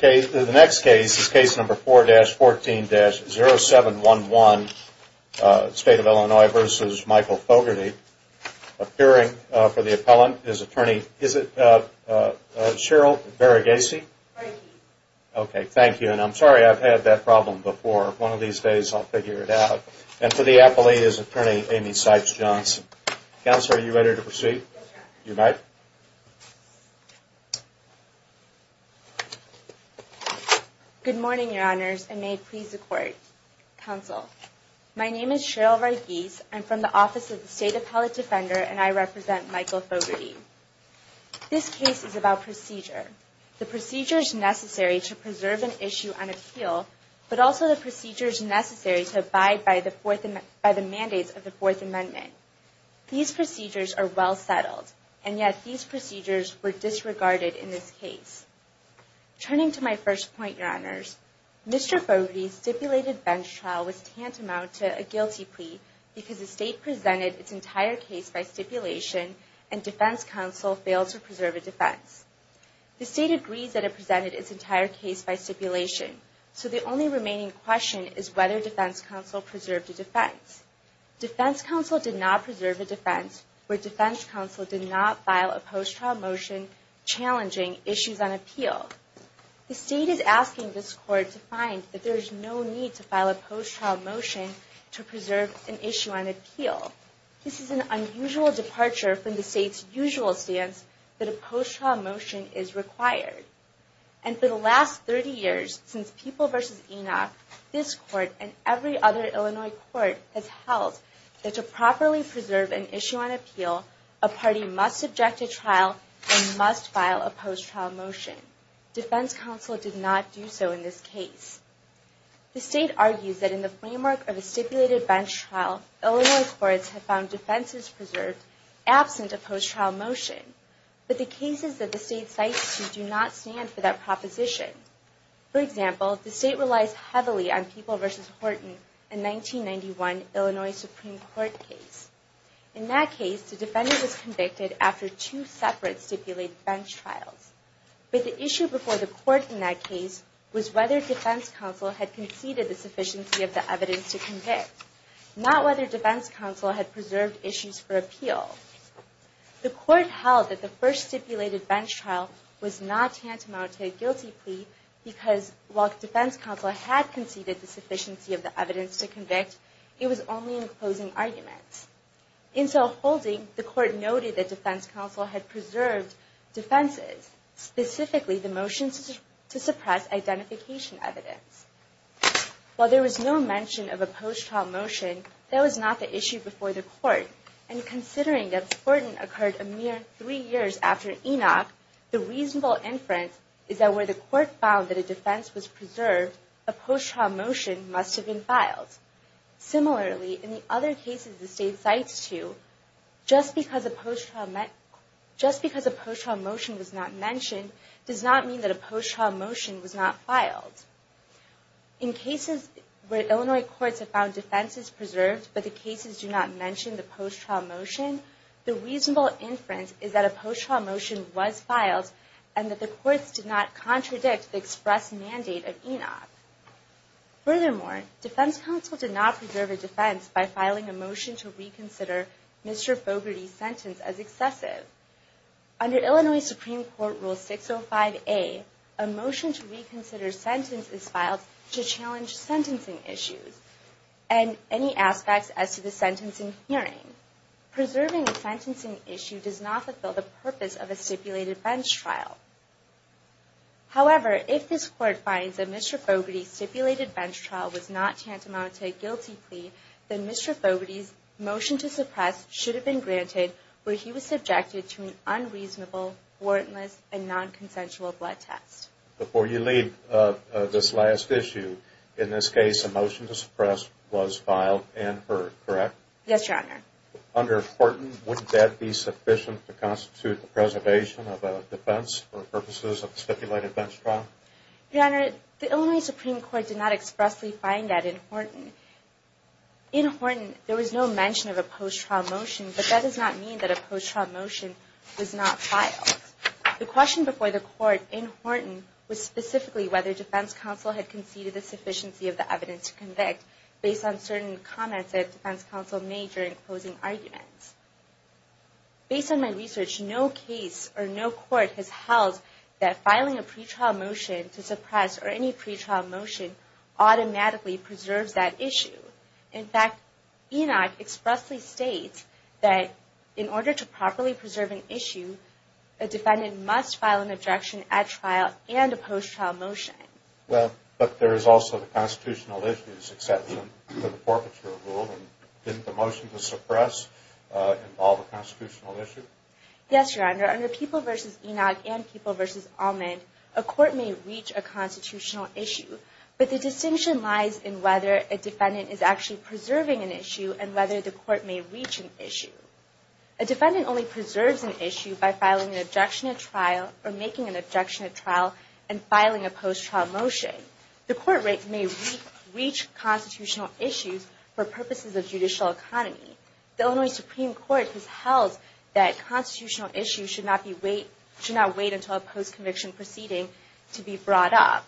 The next case is case number 4-14-0711, State of Illinois v. Michael Fogarty. Appearing for the appellant is attorney, is it Cheryl Baragasi? Baragasi. Baragasi. Okay, thank you. And I'm sorry, I've had that problem before. One of these days I'll figure it out. And for the appellee is attorney, Amy Sipes Johnson. Counselor, are you ready to proceed? Yes, sir. You might. Good morning, your honors, and may it please the court. Counsel, my name is Cheryl Baragasi. I'm from the Office of the State Appellate Defender, and I represent Michael Fogarty. This case is about procedure. The procedure is necessary to preserve an issue on appeal, but also the procedure is necessary to abide by the mandates of the Fourth Amendment. These procedures are well settled, and yet these procedures were disregarded in this case. Turning to my first point, your honors, Mr. Fogarty's stipulated bench trial was tantamount to a guilty plea because the State presented its entire case by stipulation, and Defense Counsel failed to preserve a defense. The State agrees that it presented its entire case by stipulation, so the only remaining question is whether Defense Counsel preserved a defense. Defense Counsel did not preserve a defense where Defense Counsel did not file a post-trial motion challenging issues on appeal. The State is asking this court to find that there is no need to file a post-trial motion to preserve an issue on appeal. This is an unusual departure from the State's usual stance that a post-trial motion is required. And for the last 30 years, since People v. Enoch, this court and every other Illinois court has held that to properly preserve an issue on appeal, a party must subject to trial and must file a post-trial motion. Defense Counsel did not do so in this case. The State argues that in the framework of a stipulated bench trial, Illinois courts have found defenses preserved absent a post-trial motion. But the cases that the State cites do not stand for that proposition. For example, the State relies heavily on the People v. Horton in the 1991 Illinois Supreme Court case. In that case, the defendant was convicted after two separate stipulated bench trials. But the issue before the court in that case was whether Defense Counsel had conceded the sufficiency of the evidence to convict, not whether Defense Counsel had preserved issues for appeal. The court held that the first stipulated bench trial was not tantamount to a guilty plea because while Defense Counsel had conceded the sufficiency of the evidence to convict, it was only in closing arguments. In self-holding, the court noted that Defense Counsel had preserved defenses, specifically the motions to suppress identification evidence. While there was no mention of a post-trial motion, that was not the issue before the court. And considering that Horton occurred a mere three years after Enoch, the reasonable inference is that where the court found that a defense was preserved, a post-trial motion must have been filed. Similarly, in the other cases the State cites to, just because a post-trial motion was not mentioned does not mean that a post-trial motion was not filed. In cases where Illinois courts have found defenses preserved but the cases do not mention the post-trial motion, the reasonable inference is that a post-trial motion was filed and that the courts did not contradict the express mandate of Enoch. Furthermore, Defense Counsel did not preserve a defense by filing a motion to reconsider Mr. Fogarty's sentence as excessive. Under Illinois Supreme Court Rule 605A, a motion to reconsider sentence is filed to challenge sentencing issues and any aspects as to the sentencing hearing. Preserving a sentencing issue does not fulfill the purpose of a stipulated bench trial. However, if this court finds that Mr. Fogarty's stipulated bench trial was not tantamount to a guilty plea, then Mr. Fogarty's motion to suppress should have been granted where he was subjected to an unreasonable, warrantless, and non-consensual blood test. Before you leave this last issue, in this case a motion to suppress was filed and heard, correct? Yes, Your Honor. Under Horton, wouldn't that be sufficient to constitute the preservation of a defense for purposes of a stipulated bench trial? Your Honor, the Illinois Supreme Court did not expressly find that in Horton. In Horton, there was no mention of a post-trial motion, but that does not mean that a post-trial motion was not filed. The question before the court in Horton was specifically whether Defense Counsel had conceded the sufficiency of the evidence to convict, based on certain comments that Defense Counsel made during closing arguments. Based on my research, no case or no court has held that filing a pretrial motion to suppress or any pretrial motion automatically preserves that issue. In fact, Enoch expressly states that in order to properly preserve an issue, a defendant must file an objection at trial and a post-trial motion. Well, but there is also the constitutional issues exception to the forfeiture rule, and didn't the motion to suppress involve a constitutional issue? Yes, Your Honor. Under People v. Enoch and People v. Almond, a court may reach a constitutional issue, but the distinction lies in whether a defendant is actually preserving an issue and whether the court may reach an issue. A defendant only preserves an issue by filing an objection at trial or making an objection at trial and filing a post-trial motion. The court rate may reach constitutional issues for purposes of judicial economy. The Illinois Supreme Court has held that constitutional issues should not wait until a post-conviction proceeding to be brought up.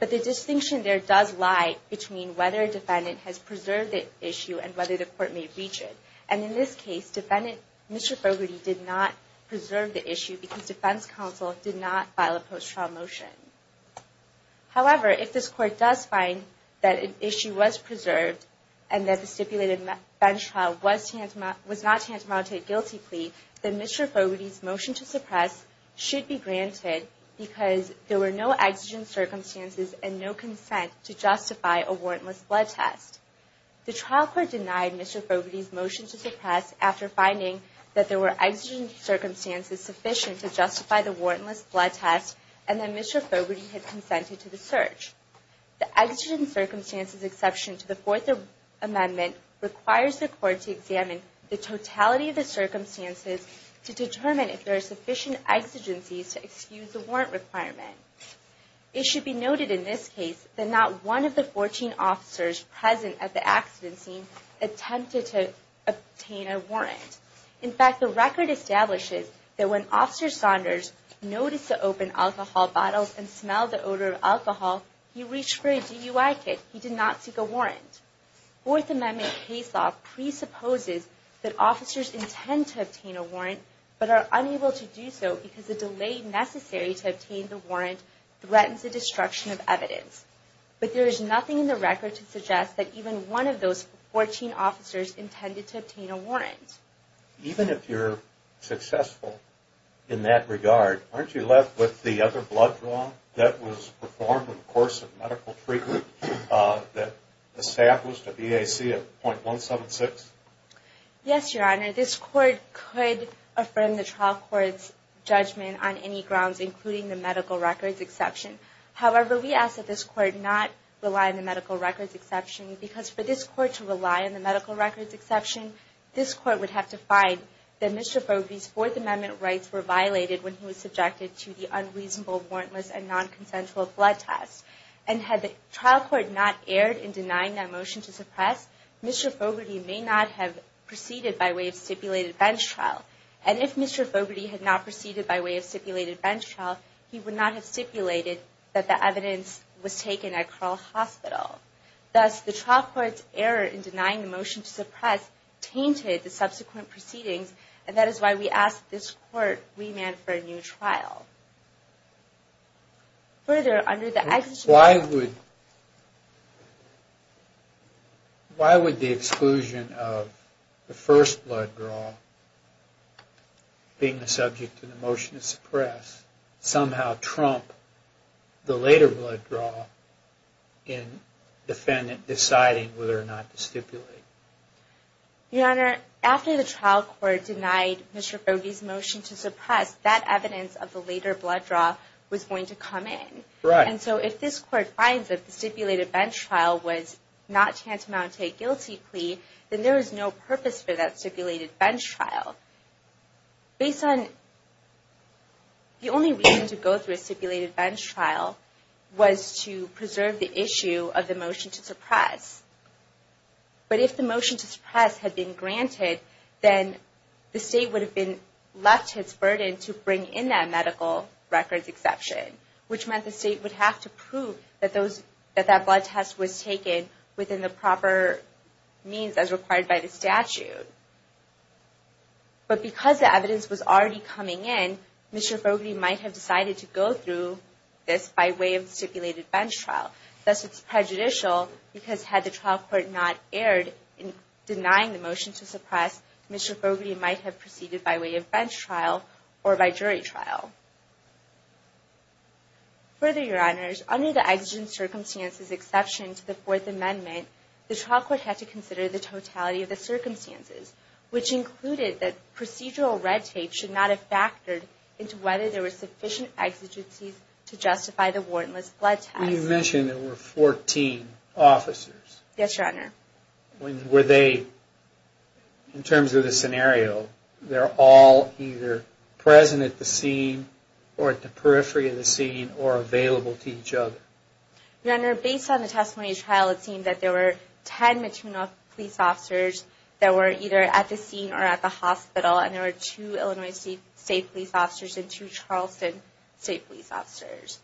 But the distinction there does lie between whether a defendant has preserved the issue and whether the court may reach it. And in this case, Mr. Bogarty did not preserve the issue because Defense Counsel did not file a post-trial motion. However, if this Court does find that an issue was preserved and that the stipulated bench trial was not tantamount to a guilty plea, then Mr. Bogarty's motion to suppress should be granted because there were no exigent circumstances and no consent to justify a warrantless blood test. The trial court denied Mr. Bogarty's motion to suppress after finding that there were exigent circumstances sufficient to justify the warrantless blood test and that Mr. Bogarty had consented to the search. The exigent circumstances exception to the Fourth Amendment requires the court to examine the totality of the circumstances to determine if there are sufficient exigencies to excuse the warrant requirement. It should be noted in this case that not one of the 14 officers present at the exigency attempted to obtain a warrant. In fact, the record establishes that when Officer Saunders noticed the open alcohol bottles and smelled the odor of alcohol, he reached for a DUI kit. He did not seek a warrant. Fourth Amendment case law presupposes that officers intend to obtain a warrant but are unable to do so because the delay necessary to obtain the warrant threatens the destruction of evidence. But there is nothing in the record to suggest that even one of those 14 officers intended to obtain a warrant. Even if you're successful in that regard, aren't you left with the other blood draw that was performed in the course of medical treatment that established a BAC of .176? Yes, Your Honor. This court could affirm the trial court's judgment on any grounds including the medical records exception. However, we ask that this court not rely on the medical records exception because for this court to rely on the medical records exception, this court would have to find that Mr. Fogarty's Fourth Amendment rights were violated when he was subjected to the unreasonable, warrantless, and nonconsensual blood test. And had the trial court not erred in denying that motion to suppress, Mr. Fogarty may not have proceeded by way of stipulated bench trial. And if Mr. Fogarty had not proceeded by way of stipulated bench trial, he would not have stipulated that the evidence was taken at Carle Hospital. Thus, the trial court's error in denying the motion to suppress tainted the subsequent proceedings, and that is why we ask that this court remand for a new trial. Why would the exclusion of the first blood draw, being the subject of the motion to suppress, somehow trump the later blood draw in the defendant deciding whether or not to stipulate? Your Honor, after the trial court denied Mr. Fogarty's motion to suppress that evidence of the later blood draw, was going to come in. And so if this court finds that the stipulated bench trial was not tantamount to a guilty plea, then there is no purpose for that stipulated bench trial. The only reason to go through a stipulated bench trial was to preserve the issue of the motion to suppress. But if the motion to suppress had been granted, then the State would have left its burden to bring in that medical records exception, which meant the State would have to prove that that blood test was taken within the proper means as required by the statute. But because the evidence was already coming in, Mr. Fogarty might have decided to go through this by way of stipulated bench trial. Thus, it's prejudicial because had the trial court not erred in denying the motion to suppress, Mr. Fogarty might have proceeded by way of bench trial or by jury trial. Further, Your Honors, under the exigent circumstances exception to the Fourth Amendment, the trial court had to consider the totality of the circumstances, which included that procedural red tape should not have factored into whether there were sufficient exigencies to justify the warrantless blood test. You mentioned there were 14 officers. Yes, Your Honor. Were they, in terms of the scenario, they're all either present at the scene or at the periphery of the scene or available to each other? Your Honor, based on the testimony of the trial, it seemed that there were 10 Matino police officers that were either at the scene or at the hospital, and there were two Illinois State police officers and two Charleston State police officers.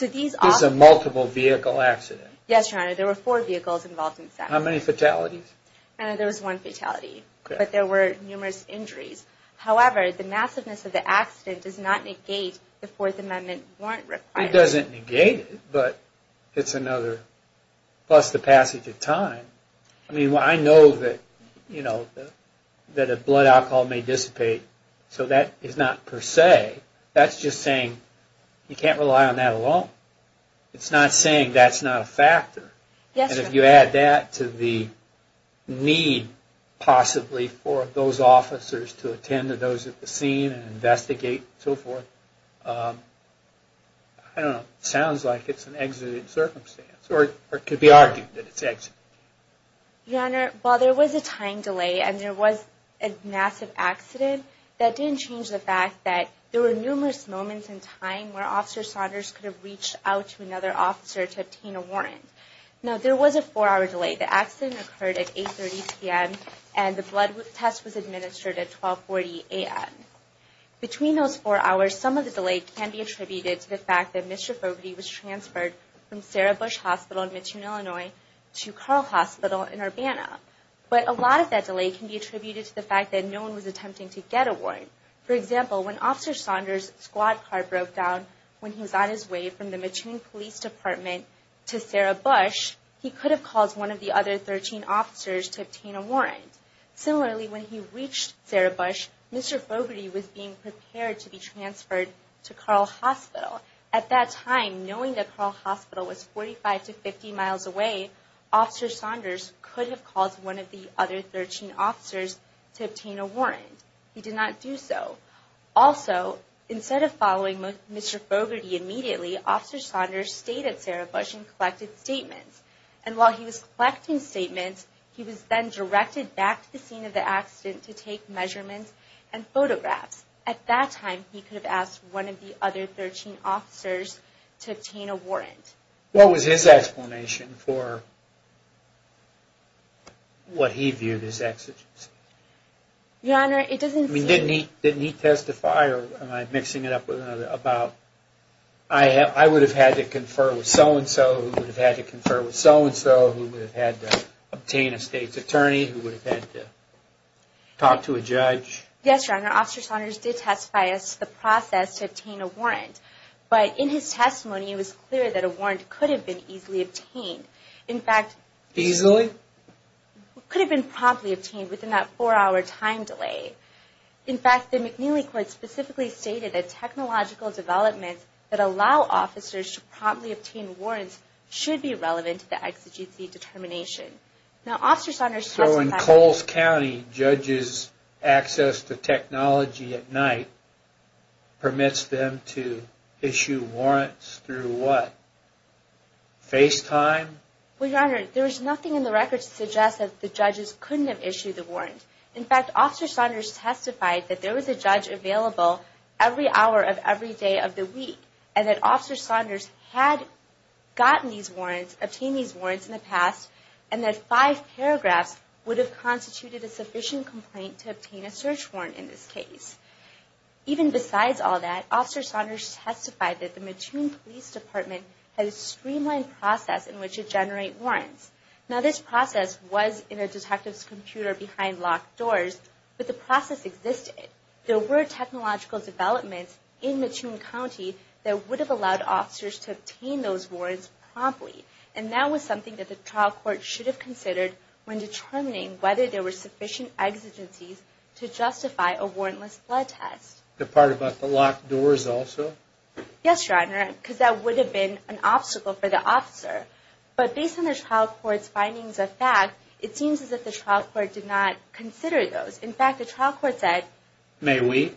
This is a multiple vehicle accident? Yes, Your Honor. There were four vehicles involved. How many fatalities? There was one fatality, but there were numerous injuries. However, the massiveness of the accident does not negate the Fourth Amendment warrant requirement. It doesn't negate it, but it's another. Plus the passage of time. I mean, I know that, you know, that a blood alcohol may dissipate, so that is not per se. That's just saying you can't rely on that alone. It's not saying that's not a factor. Yes, Your Honor. And if you add that to the need, possibly, for those officers to attend to those at the scene and investigate and so forth, I don't know. It sounds like it's an exited circumstance, or it could be argued that it's exited. Your Honor, while there was a time delay and there was a massive accident, that didn't change the fact that there were numerous moments in time where Officer Saunders could have reached out to another officer to obtain a warrant. Now, there was a four-hour delay. The accident occurred at 8.30 p.m., and the blood test was administered at 12.40 a.m. Between those four hours, some of the delay can be attributed to the fact that Mr. Fogarty was transferred from Sarah Bush Hospital in Mattoon, Illinois to Carl Hospital in Urbana. But a lot of that delay can be attributed to the fact that no one was attempting to get a warrant. For example, when Officer Saunders' squad car broke down when he was on his way from the Mattoon Police Department to Sarah Bush, he could have called one of the other 13 officers to obtain a warrant. Similarly, when he reached Sarah Bush, Mr. Fogarty was being prepared to be transferred to Carl Hospital. At that time, knowing that Carl Hospital was 45 to 50 miles away, Officer Saunders could have called one of the other 13 officers to obtain a warrant. He did not do so. Also, instead of following Mr. Fogarty immediately, Officer Saunders stayed at Sarah Bush and collected statements. And while he was collecting statements, he was then directed back to the scene of the accident to take measurements and photographs. At that time, he could have asked one of the other 13 officers to obtain a warrant. What was his explanation for what he viewed as exigency? Your Honor, it doesn't seem... I mean, didn't he testify, or am I mixing it up with another, about, I would have had to confer with so-and-so, who would have had to confer with so-and-so, who would have had to obtain a state's attorney, who would have had to talk to a judge. Yes, Your Honor, Officer Saunders did testify as to the process to obtain a warrant. But in his testimony, it was clear that a warrant could have been easily obtained. In fact... Easily? It could have been promptly obtained within that four-hour time delay. In fact, the McNeely Court specifically stated that technological developments that allow officers to promptly obtain warrants should be relevant to the exigency determination. Now, Officer Saunders testified... So, in Coles County, judges' access to technology at night permits them to issue warrants through what? FaceTime? Well, Your Honor, there is nothing in the record to suggest that the judges couldn't have issued the warrant. In fact, Officer Saunders testified that there was a judge available every hour of every day of the week and that Officer Saunders had gotten these warrants, obtained these warrants in the past, and that five paragraphs would have constituted a sufficient complaint to obtain a search warrant in this case. Even besides all that, Officer Saunders testified that the Mattoon Police Department had a streamlined process in which to generate warrants. Now, this process was in a detective's computer behind locked doors, but the process existed. There were technological developments in Mattoon County that would have allowed officers to obtain those warrants promptly, and that was something that the trial court should have considered when determining whether there were sufficient exigencies to justify a warrantless blood test. The part about the locked doors also? Yes, Your Honor, because that would have been an obstacle for the officer. But based on the trial court's findings of fact, it seems as if the trial court did not consider those. In fact, the trial court said... May we?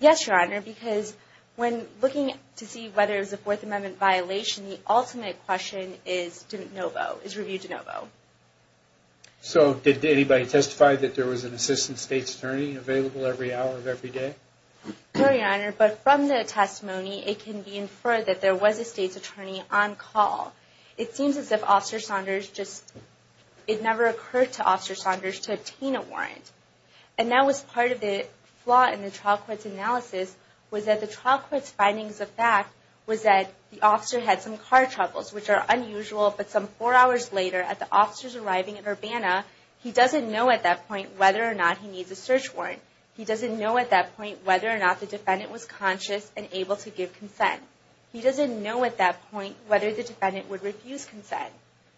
Yes, Your Honor, because when looking to see whether it was a Fourth Amendment violation, the ultimate question is denovo, is review denovo. So, did anybody testify that there was an assistant state's attorney available every hour of every day? No, Your Honor, but from the testimony, it can be inferred that there was a state's attorney on call. It seems as if Officer Saunders just...it never occurred to Officer Saunders to obtain a warrant. And that was part of the flaw in the trial court's analysis, was that the trial court's findings of fact was that the officer had some car troubles, which are unusual, but some four hours later, at the officer's arriving at Urbana, he doesn't know at that point whether or not he needs a search warrant. He doesn't know at that point whether or not the defendant was conscious and able to give consent. He doesn't know at that point whether the defendant would refuse consent.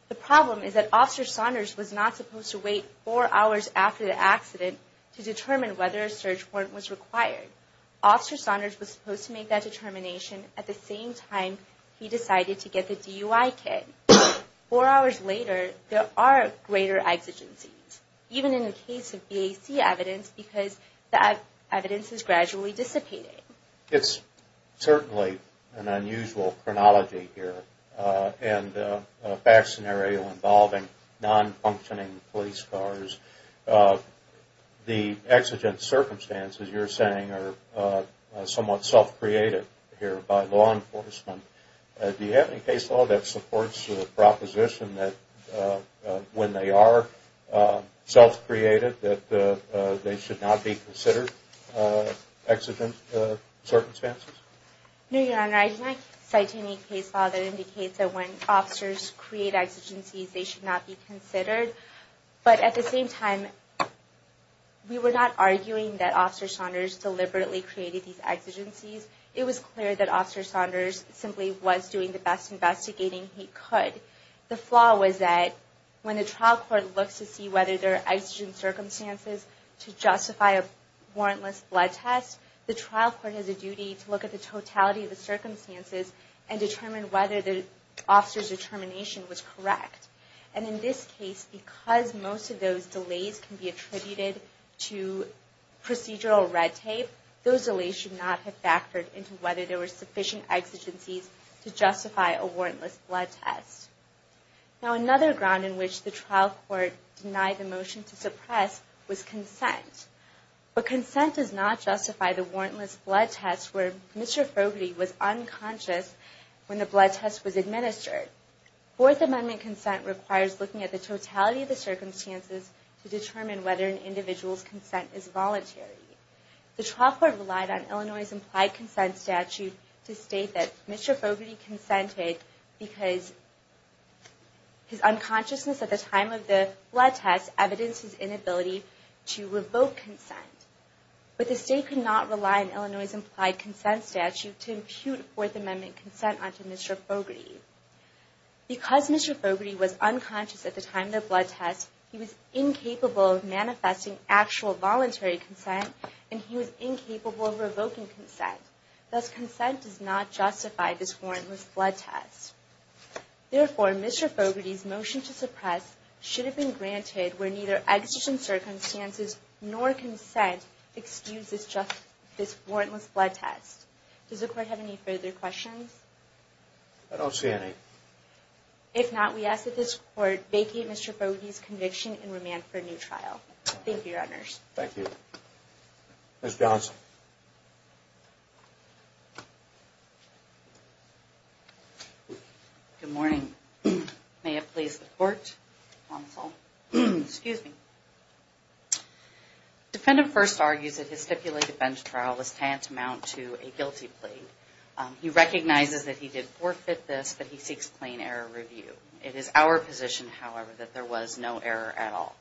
The problem is that Officer Saunders was not supposed to wait four hours after the accident to determine whether a search warrant was required. Officer Saunders was supposed to make that determination at the same time he decided to get the DUI kit. Four hours later, there are greater exigencies, even in the case of BAC evidence, because the evidence is gradually dissipating. It's certainly an unusual chronology here, and BAC scenario involving non-functioning police cars. The exigent circumstances you're saying are somewhat self-created here by law enforcement. Do you have any case law that supports the proposition that when they are self-created, that they should not be considered exigent circumstances? No, Your Honor. I can't cite any case law that indicates that when officers create exigencies, they should not be considered. But at the same time, we were not arguing that Officer Saunders deliberately created these exigencies. It was clear that Officer Saunders simply was doing the best investigating he could. The flaw was that when the trial court looks to see whether there are exigent circumstances to justify a warrantless blood test, the trial court has a duty to look at the totality of the circumstances and determine whether the officer's determination was correct. And in this case, because most of those delays can be attributed to procedural red tape, those delays should not have factored into whether there were sufficient exigencies to justify a warrantless blood test. Now another ground in which the trial court denied the motion to suppress was consent. But consent does not justify the warrantless blood test where Mr. Fogarty was unconscious when the blood test was administered. Fourth Amendment consent requires looking at the totality of the circumstances to determine whether an individual's consent is voluntary. The trial court relied on Illinois' implied consent statute to state that Mr. Fogarty consented because his unconsciousness at the time of the blood test evidenced his inability to revoke consent. But the state could not rely on Illinois' implied consent statute to impute Fourth Amendment consent onto Mr. Fogarty. Because Mr. Fogarty was unconscious at the time of the blood test, he was incapable of manifesting actual voluntary consent, and he was incapable of revoking consent. Thus, consent does not justify this warrantless blood test. Therefore, Mr. Fogarty's motion to suppress should have been granted where neither exigent circumstances nor consent excuse this warrantless blood test. Does the Court have any further questions? I don't see any. If not, we ask that this Court vacate Mr. Fogarty's conviction and remand for a new trial. Thank you, Your Honors. Thank you. Ms. Johnson. Good morning. May it please the Court. Counsel. Excuse me. Defendant first argues that his stipulated bench trial was tantamount to a guilty plea. He recognizes that he did forfeit this, but he seeks plain error review. It is our position, however, that there was no error at all.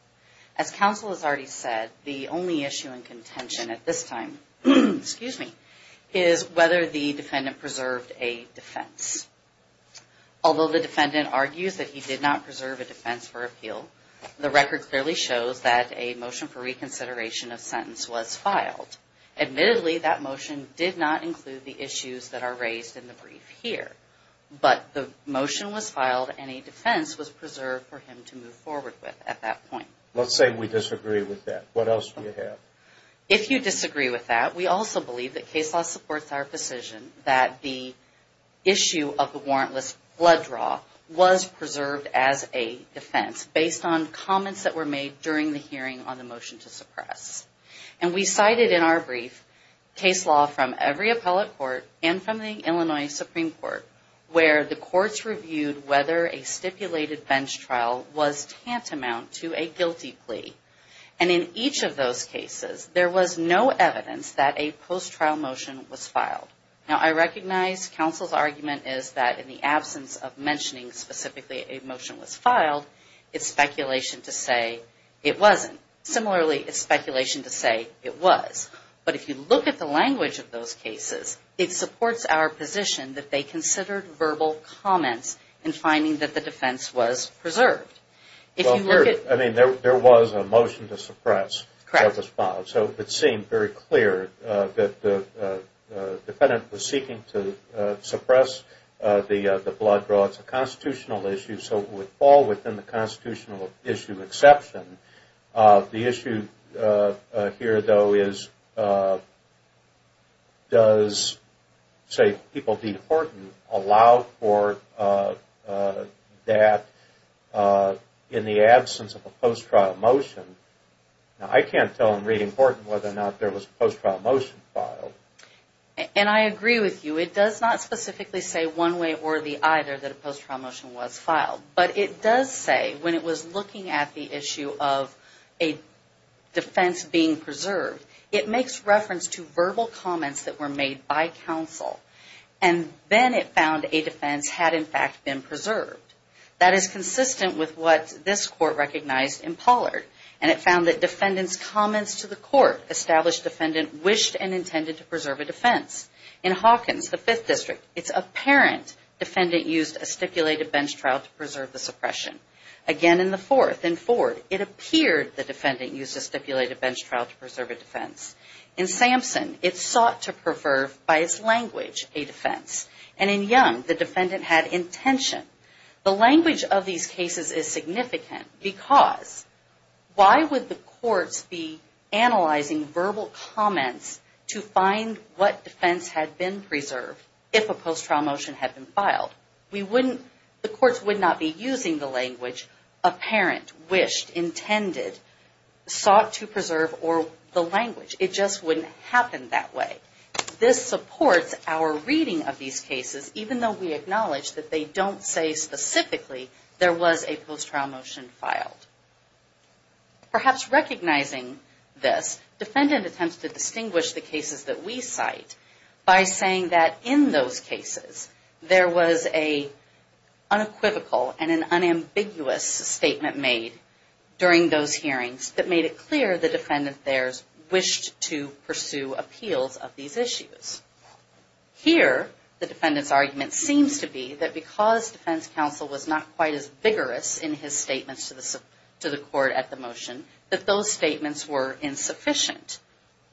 As counsel has already said, the only issue in contention at this time, excuse me, is whether the defendant preserved a defense. Although the defendant argues that he did not preserve a defense for appeal, the record clearly shows that a motion for reconsideration of sentence was filed. Admittedly, that motion did not include the issues that are raised in the brief here, but the motion was filed and a defense was preserved for him to move forward with at that point. Let's say we disagree with that. What else do you have? If you disagree with that, we also believe that case law supports our position that the issue of the warrantless blood draw was preserved as a defense based on comments that were made during the hearing on the motion to suppress. And we cited in our brief case law from every appellate court and from the Illinois Supreme Court where the courts reviewed whether a stipulated bench trial was tantamount to a guilty plea. And in each of those cases, there was no evidence that a post-trial motion was filed. Now, I recognize counsel's argument is that in the absence of mentioning specifically a motion was filed, it's speculation to say it wasn't. Similarly, it's speculation to say it was. But if you look at the language of those cases, it supports our position that they considered verbal comments in finding that the defense was preserved. I mean, there was a motion to suppress that was filed, so it seemed very clear that the defendant was seeking to suppress the blood draw. It's a constitutional issue, so it would fall within the constitutional issue exception. The issue here, though, is does, say, people beat Horton allow for that in the absence of a post-trial motion? Now, I can't tell in reading Horton whether or not there was a post-trial motion filed. And I agree with you. It does not specifically say one way or the either that a post-trial motion was filed. But it does say when it was looking at the issue of a defense being preserved, it makes reference to verbal comments that were made by counsel. And then it found a defense had, in fact, been preserved. That is consistent with what this court recognized in Pollard. And it found that defendants' comments to the court established defendant wished and intended to preserve a defense. In Hawkins, the Fifth District, it's apparent defendant used a stipulated bench trial to preserve the suppression. Again, in the Fourth, in Ford, it appeared the defendant used a stipulated bench trial to preserve a defense. In Sampson, it sought to preserve, by its language, a defense. And in Young, the defendant had intention. The language of these cases is significant because why would the courts be analyzing verbal comments to find what defense had been preserved if a post-trial motion had been filed? The courts would not be using the language apparent, wished, intended, sought to preserve, or the language. It just wouldn't happen that way. This supports our reading of these cases, even though we acknowledge that they don't say specifically, there was a post-trial motion filed. Perhaps recognizing this, defendant attempts to distinguish the cases that we cite by saying that in those cases, there was an unequivocal and an unambiguous statement made during those hearings that made it clear the defendant there wished to pursue appeals of these issues. Here, the defendant's argument seems to be that because defense counsel was not quite as vigorous in his statements to the court at the motion, that those statements were insufficient.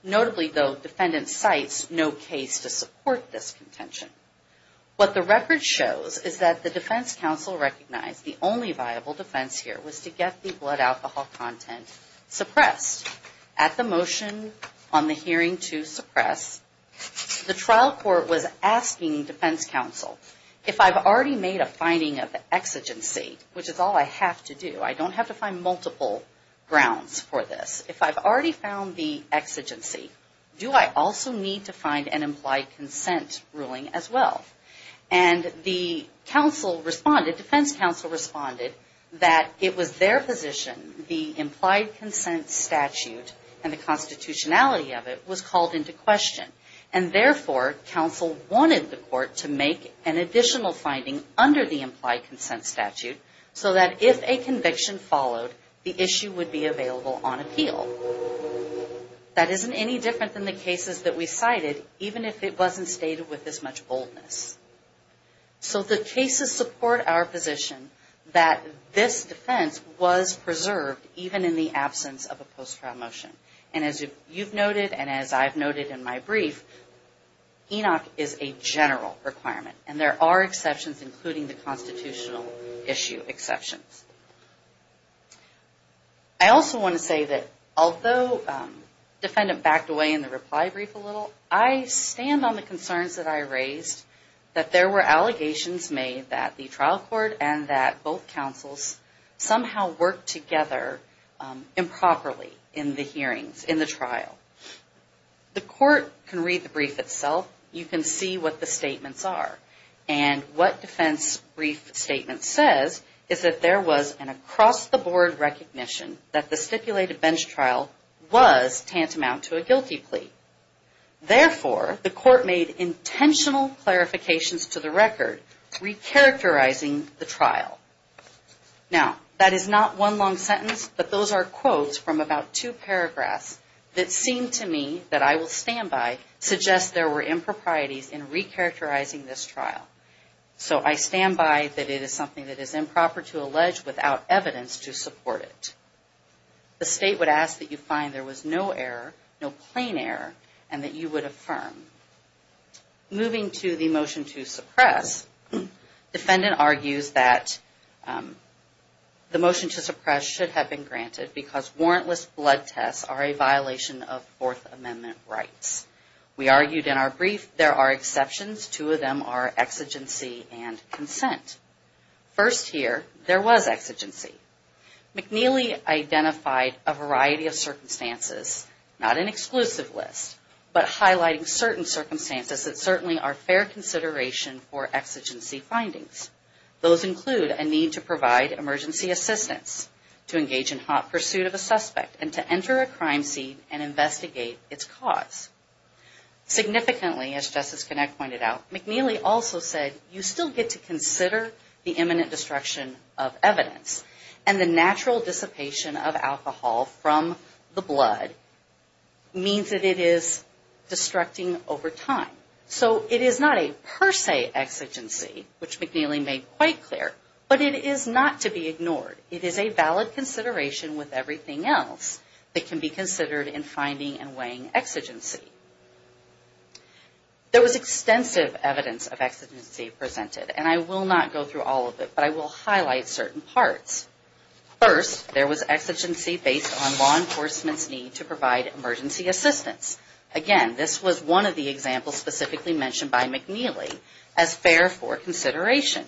Notably, though, defendant cites no case to support this contention. What the record shows is that the defense counsel recognized the only viable defense here was to get the blood alcohol content suppressed. At the motion on the hearing to suppress, the trial court was asking defense counsel, if I've already made a finding of exigency, which is all I have to do, I don't have to find multiple grounds for this. If I've already found the exigency, do I also need to find an implied consent ruling as well? The defense counsel responded that it was their position, the implied consent statute, and the constitutionality of it was called into question. Therefore, counsel wanted the court to make an additional finding under the implied consent statute, so that if a conviction followed, the issue would be available on appeal. That isn't any different than the cases that we cited, even if it wasn't stated with this much boldness. So the cases support our position that this defense was preserved, even in the absence of a post-trial motion. And as you've noted, and as I've noted in my brief, ENOC is a general requirement. And there are exceptions, including the constitutional issue exceptions. I also want to say that although defendant backed away in the reply brief a little, I stand on the concerns that I raised, that there were allegations made that the trial court and that both counsels somehow worked together improperly in the hearings, in the trial. The court can read the brief itself. You can see what the statements are. And what defense brief statement says is that there was an across-the-board recognition that the stipulated bench trial was tantamount to a guilty plea. Therefore, the court made intentional clarifications to the record, recharacterizing the trial. Now, that is not one long sentence, but those are quotes from about two paragraphs that seem to me that I will stand by, suggest there were improprieties in recharacterizing this trial. So I stand by that it is something that is improper to allege without evidence to support it. The state would ask that you find there was no error, no plain error, and that you would affirm. Moving to the motion to suppress, defendant argues that the motion to suppress should have been granted because warrantless blood tests are a violation of Fourth Amendment rights. We argued in our brief there are exceptions. Two of them are exigency and consent. First here, there was exigency. McNeely identified a variety of circumstances, not an exclusive list, but highlighting certain circumstances that certainly are fair consideration for exigency findings. Those include a need to provide emergency assistance, to engage in hot pursuit of a suspect, and to enter a crime scene and investigate its cause. Significantly, as Justice Connett pointed out, McNeely also said you still get to consider the imminent destruction of evidence, and the natural dissipation of alcohol from the blood means that it is destructing over time. So it is not a per se exigency, which McNeely made quite clear, but it is not to be ignored. It is a valid consideration with everything else that can be considered in finding and weighing exigency. There was extensive evidence of exigency presented, and I will not go through all of it, but I will highlight certain parts. First, there was exigency based on law enforcement's need to provide emergency assistance. Again, this was one of the examples specifically mentioned by McNeely as fair for consideration.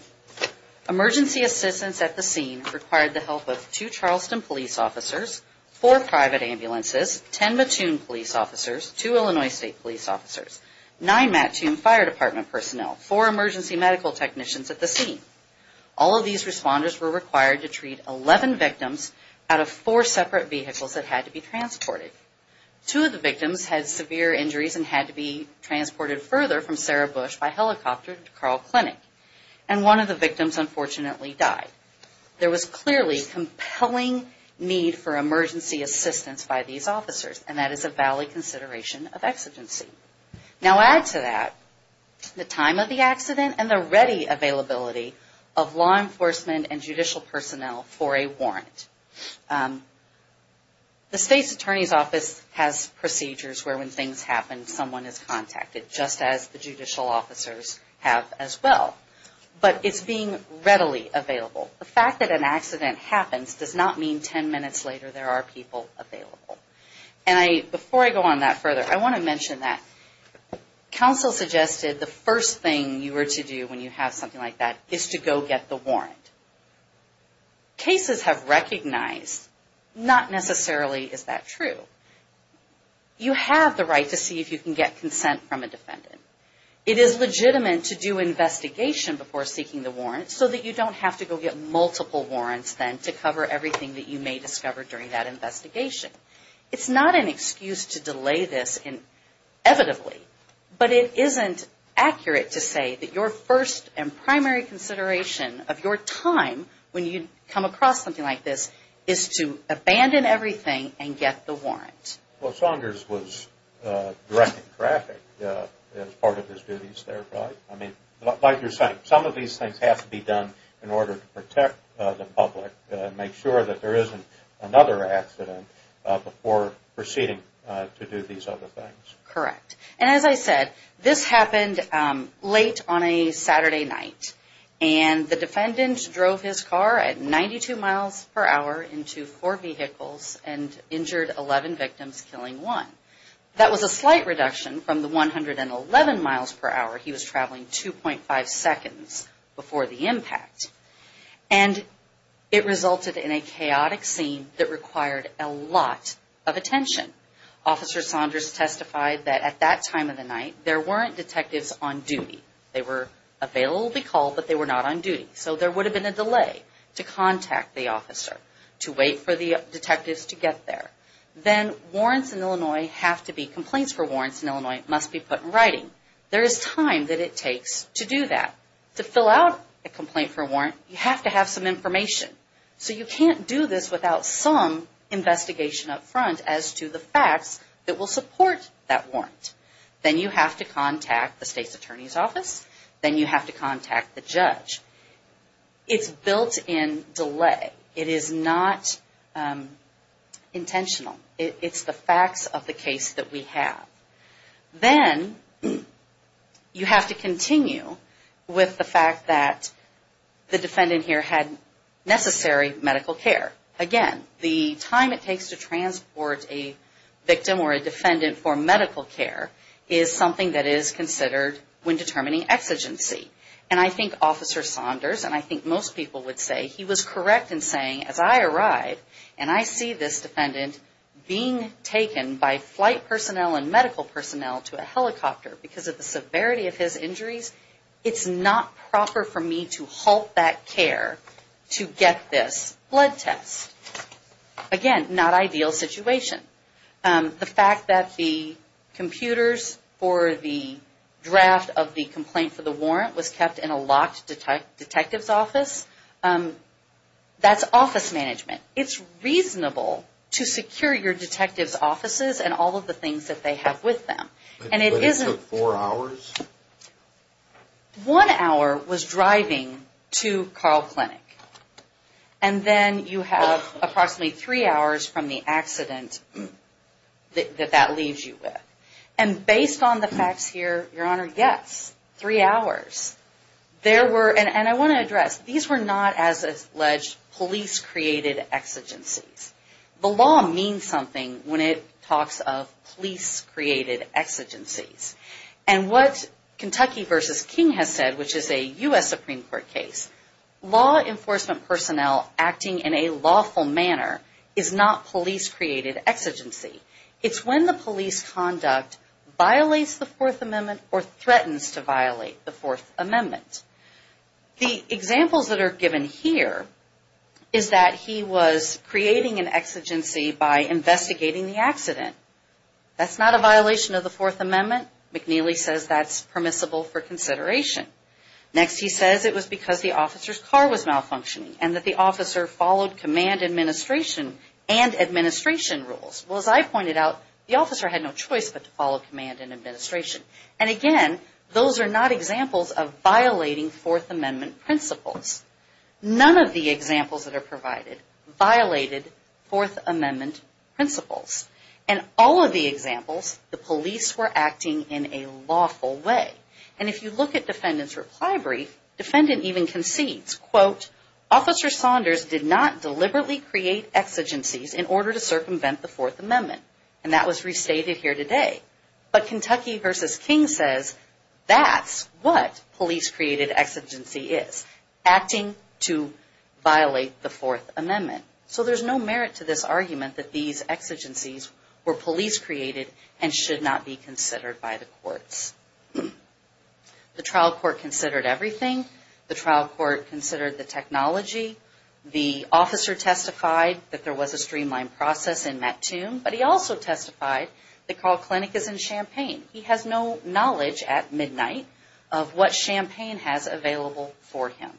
Emergency assistance at the scene required the help of two Charleston police officers, four private ambulances, ten Mattoon police officers, two Illinois State police officers, nine Mattoon fire department personnel, four emergency medical technicians at the scene. All of these responders were required to treat 11 victims out of four separate vehicles that had to be transported. Two of the victims had severe injuries and had to be transported further from Sarah Bush by helicopter to Carl Clinic, and one of the victims unfortunately died. There was clearly compelling need for emergency assistance by these officers, and that is a valid consideration of exigency. Now add to that the time of the accident and the ready availability of law enforcement and judicial personnel for a warrant. The state's attorney's office has procedures where when things happen, someone is contacted, just as the judicial officers have as well. But it's being readily available. The fact that an accident happens does not mean ten minutes later there are people available. Before I go on that further, I want to mention that counsel suggested the first thing you were to do when you have something like that is to go get the warrant. Cases have recognized not necessarily is that true. You have the right to see if you can get consent from a defendant. It is legitimate to do investigation before seeking the warrant so that you don't have to go get multiple warrants then to cover everything that you may discover during that investigation. It's not an excuse to delay this inevitably, but it isn't accurate to say that your first and primary consideration of your time when you come across something like this is to abandon everything and get the warrant. Well, Saunders was directing traffic as part of his duties there, right? Like you're saying, some of these things have to be done in order to protect the public, make sure that there isn't another accident before proceeding to do these other things. Correct. And as I said, this happened late on a Saturday night. And the defendant drove his car at 92 miles per hour into four vehicles and injured 11 victims, killing one. That was a slight reduction from the 111 miles per hour he was traveling 2.5 seconds before the impact. And it resulted in a chaotic scene that required a lot of attention. Officer Saunders testified that at that time of the night, there weren't detectives on duty. They were available to be called, but they were not on duty. So there would have been a delay to contact the officer, to wait for the detectives to get there. Then warrants in Illinois have to be, complaints for warrants in Illinois must be put in writing. There is time that it takes to do that. To fill out a complaint for warrant, you have to have some information. So you can't do this without some investigation up front as to the facts that will support that warrant. Then you have to contact the state's attorney's office. Then you have to contact the judge. It's built in delay. It is not intentional. It's the facts of the case that we have. Then you have to continue with the fact that the defendant here had necessary medical care. Again, the time it takes to transport a victim or a defendant for medical care is something that is considered when determining exigency. And I think Officer Saunders, and I think most people would say, he was correct in saying, as I arrived, and I see this defendant being taken by flight personnel and medical personnel to a helicopter because of the severity of his injuries, it's not proper for me to halt that care to get this blood test. Again, not ideal situation. The fact that the computers for the draft of the complaint for the warrant was kept in a locked detective's office, that's office management. It's reasonable to secure your detective's offices and all of the things that they have with them. But it took four hours? One hour was driving to Carl Clinic. And then you have approximately three hours from the accident that that leaves you with. And based on the facts here, Your Honor, yes, three hours. And I want to address, these were not, as alleged, police-created exigencies. The law means something when it talks of police-created exigencies. And what Kentucky v. King has said, which is a U.S. Supreme Court case, law enforcement personnel acting in a lawful manner is not police-created exigency. It's when the police conduct violates the Fourth Amendment or threatens to violate the Fourth Amendment. The examples that are given here is that he was creating an exigency by investigating the accident. That's not a violation of the Fourth Amendment. McNeely says that's permissible for consideration. Next he says it was because the officer's car was malfunctioning and that the officer followed command administration and administration rules. Well, as I pointed out, the officer had no choice but to follow command and administration. And again, those are not examples of violating Fourth Amendment principles. None of the examples that are provided violated Fourth Amendment principles. And all of the examples, the police were acting in a lawful way. And if you look at defendant's reply brief, defendant even concedes, quote, Officer Saunders did not deliberately create exigencies in order to circumvent the Fourth Amendment. And that was restated here today. But Kentucky v. King says that's what police-created exigency is. Acting to violate the Fourth Amendment. So there's no merit to this argument that these exigencies were police-created and should not be considered by the courts. The trial court considered everything. The trial court considered the technology. The officer testified that there was a streamlined process in Mattoon, but he also testified that Carl Clinic is in Champaign. He has no knowledge at midnight of what Champaign has available for him.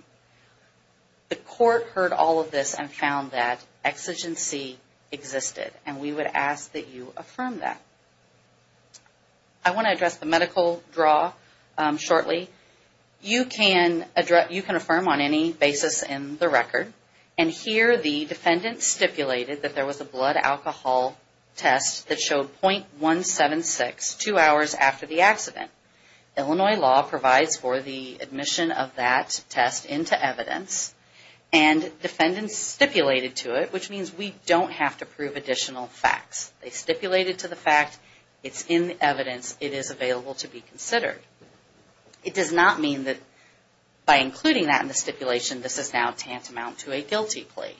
The court heard all of this and found that exigency existed. And we would ask that you affirm that. I want to address the medical draw shortly. You can affirm on any basis in the record. And here the defendant stipulated that there was a blood alcohol test that showed .176 two hours after the accident. Illinois law provides for the admission of that test into evidence. And defendants stipulated to it, which means we don't have to prove additional facts. They stipulated to the fact it's in the evidence. It is available to be considered. It does not mean that by including that in the stipulation, this is now tantamount to a guilty plea.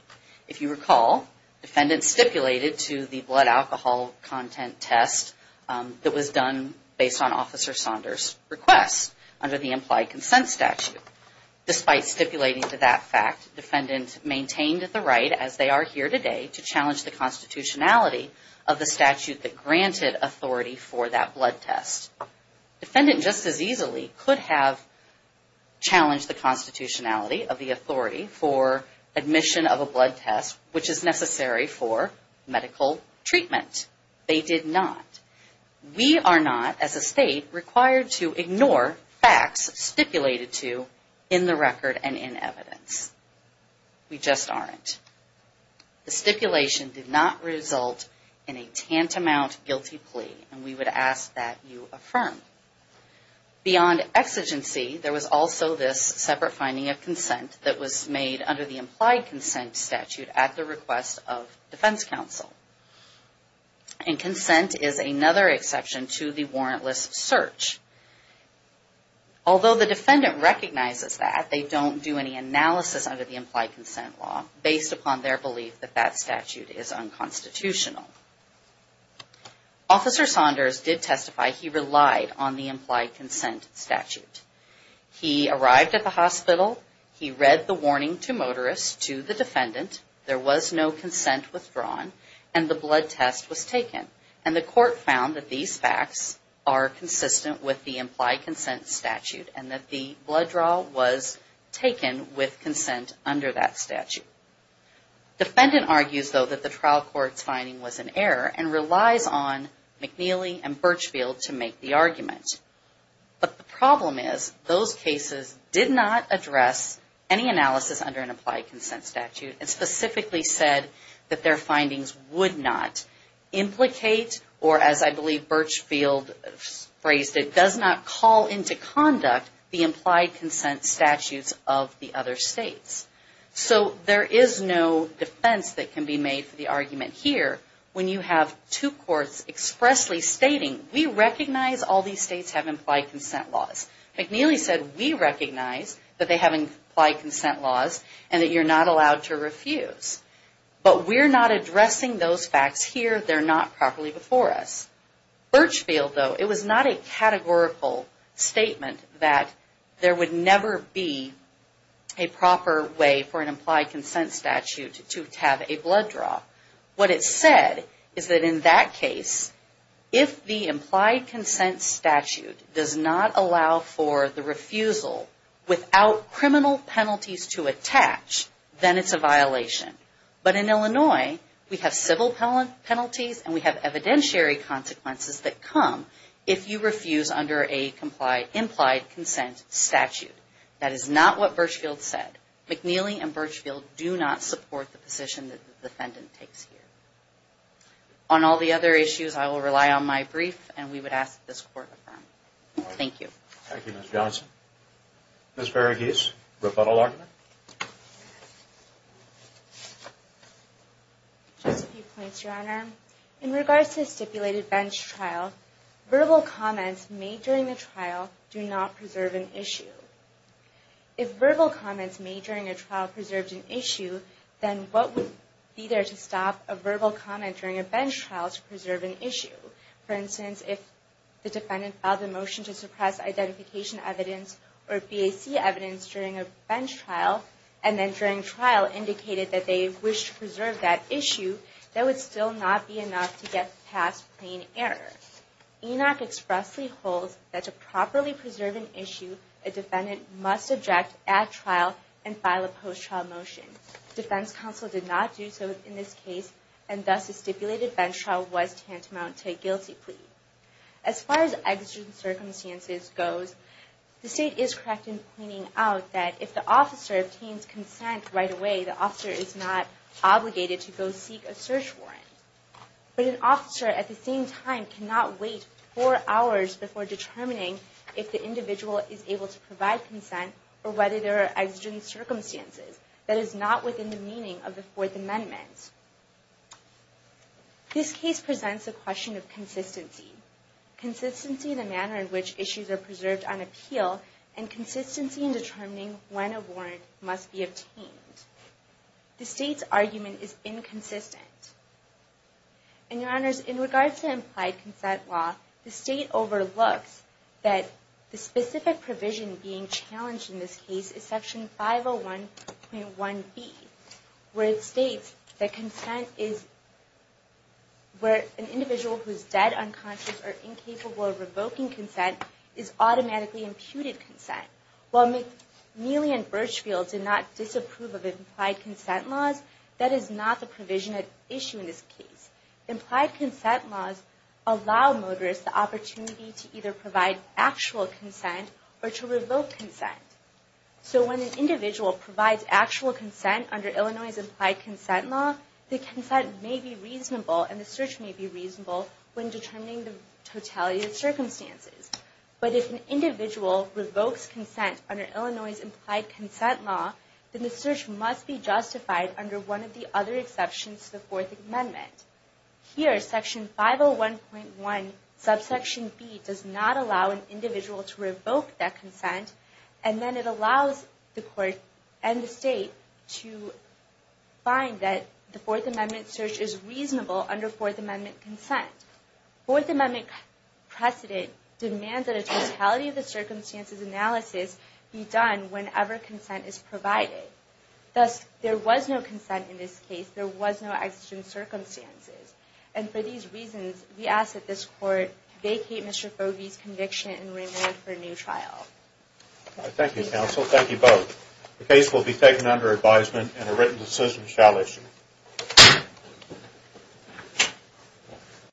If you recall, defendants stipulated to the blood alcohol content test that was done based on Officer Saunders' request under the implied consent statute. Despite stipulating to that fact, defendants maintained the right as they are here today to challenge the constitutionality of the statute that granted authority for that blood test. Defendant just as easily could have challenged the constitutionality of the authority for admission of a blood test, which is necessary for medical treatment. They did not. We are not, as a state, required to ignore facts stipulated to in the record and in evidence. We just aren't. The stipulation did not result in a tantamount guilty plea. And we would ask that you affirm. Beyond exigency, there was also this separate finding of consent that was made under the implied consent statute at the request of defense counsel. And consent is another exception to the warrantless search. Although the defendant recognizes that, they don't do any analysis under the implied consent law based upon their belief that that statute is unconstitutional. Officer Saunders did testify he relied on the implied consent statute. He arrived at the hospital. He read the warning to motorists to the defendant. There was no consent withdrawn. And the blood test was taken. And the court found that these facts are consistent with the implied consent statute and that the blood draw was taken with consent under that statute. Defendant argues, though, that the trial court's finding was an error and relies on McNeely and Birchfield to make the argument. But the problem is, those cases did not implicate, or as I believe Birchfield phrased it, does not call into conduct the implied consent statutes of the other states. So there is no defense that can be made for the argument here when you have two courts expressly stating, we recognize all these states have implied consent laws. McNeely said, we recognize that they have implied consent laws and that you're not allowed to refuse. But we're not addressing those facts here. They're not properly before us. Birchfield, though, it was not a categorical statement that there would never be a proper way for an implied consent statute to have a blood draw. What it said is that in that case, if the implied consent statute does not allow for the refusal without criminal penalties to attach, then it's a violation. But in Illinois, we have civil penalties and we have evidentiary consequences that come if you refuse under an implied consent statute. That is not what Birchfield said. McNeely and Birchfield do not support the position that the defendant takes here. On all the other issues, I will rely on my brief and we would ask that this Court affirm. Thank you. Thank you, Ms. Johnson. Ms. Varughese, rebuttal argument. Just a few points, Your Honor. In regards to the stipulated bench trial, verbal comments made during the bench trial to preserve an issue, then what would be there to stop a verbal comment during a bench trial to preserve an issue? For instance, if the defendant filed a motion to suppress identification evidence or BAC evidence during a bench trial and then during trial indicated that they wished to preserve that issue, that would still not be enough to get past plain error. Enoch expressly holds that to properly preserve an issue, a defendant must object at trial and file a post-trial motion. Defense counsel did not do so in this case and thus the stipulated bench trial was tantamount to a guilty plea. As far as exigent circumstances goes, the State is correct in pointing out that if the officer obtains consent right away, the officer is not obligated to go seek a warrant before determining if the individual is able to provide consent or whether there are exigent circumstances. That is not within the meaning of the Fourth Amendment. This case presents the question of consistency. Consistency in the manner in which issues are preserved on appeal and consistency in determining when a warrant must be obtained. The State's argument is inconsistent. In regards to implied consent law, the State overlooks that the specific provision being challenged in this case is Section 501.1b where it states that consent is where an individual who is dead, unconscious, or incapable of revoking consent is automatically imputed consent. While McNeely and Burchfield did not disapprove of implied consent laws, that is not the provision at issue in this case. Implied consent laws allow motorists the opportunity to either provide actual consent or to revoke consent. So when an individual provides actual consent under Illinois' implied consent law, the consent may be reasonable and the search may be reasonable when determining the totality of the circumstances. The search must be justified under one of the other exceptions to the Fourth Amendment. Here, Section 501.1b does not allow an individual to revoke that consent, and then it allows the Court and the State to find that the Fourth Amendment search is reasonable under Fourth Amendment consent. Fourth Amendment precedent demands that a totality of the Thus, there was no consent in this case. There was no existing circumstances. And for these reasons, we ask that this Court vacate Mr. Fogey's conviction and renew it for a new trial. Thank you, counsel. Thank you both. The case will be taken under advisement and a written decision shall issue.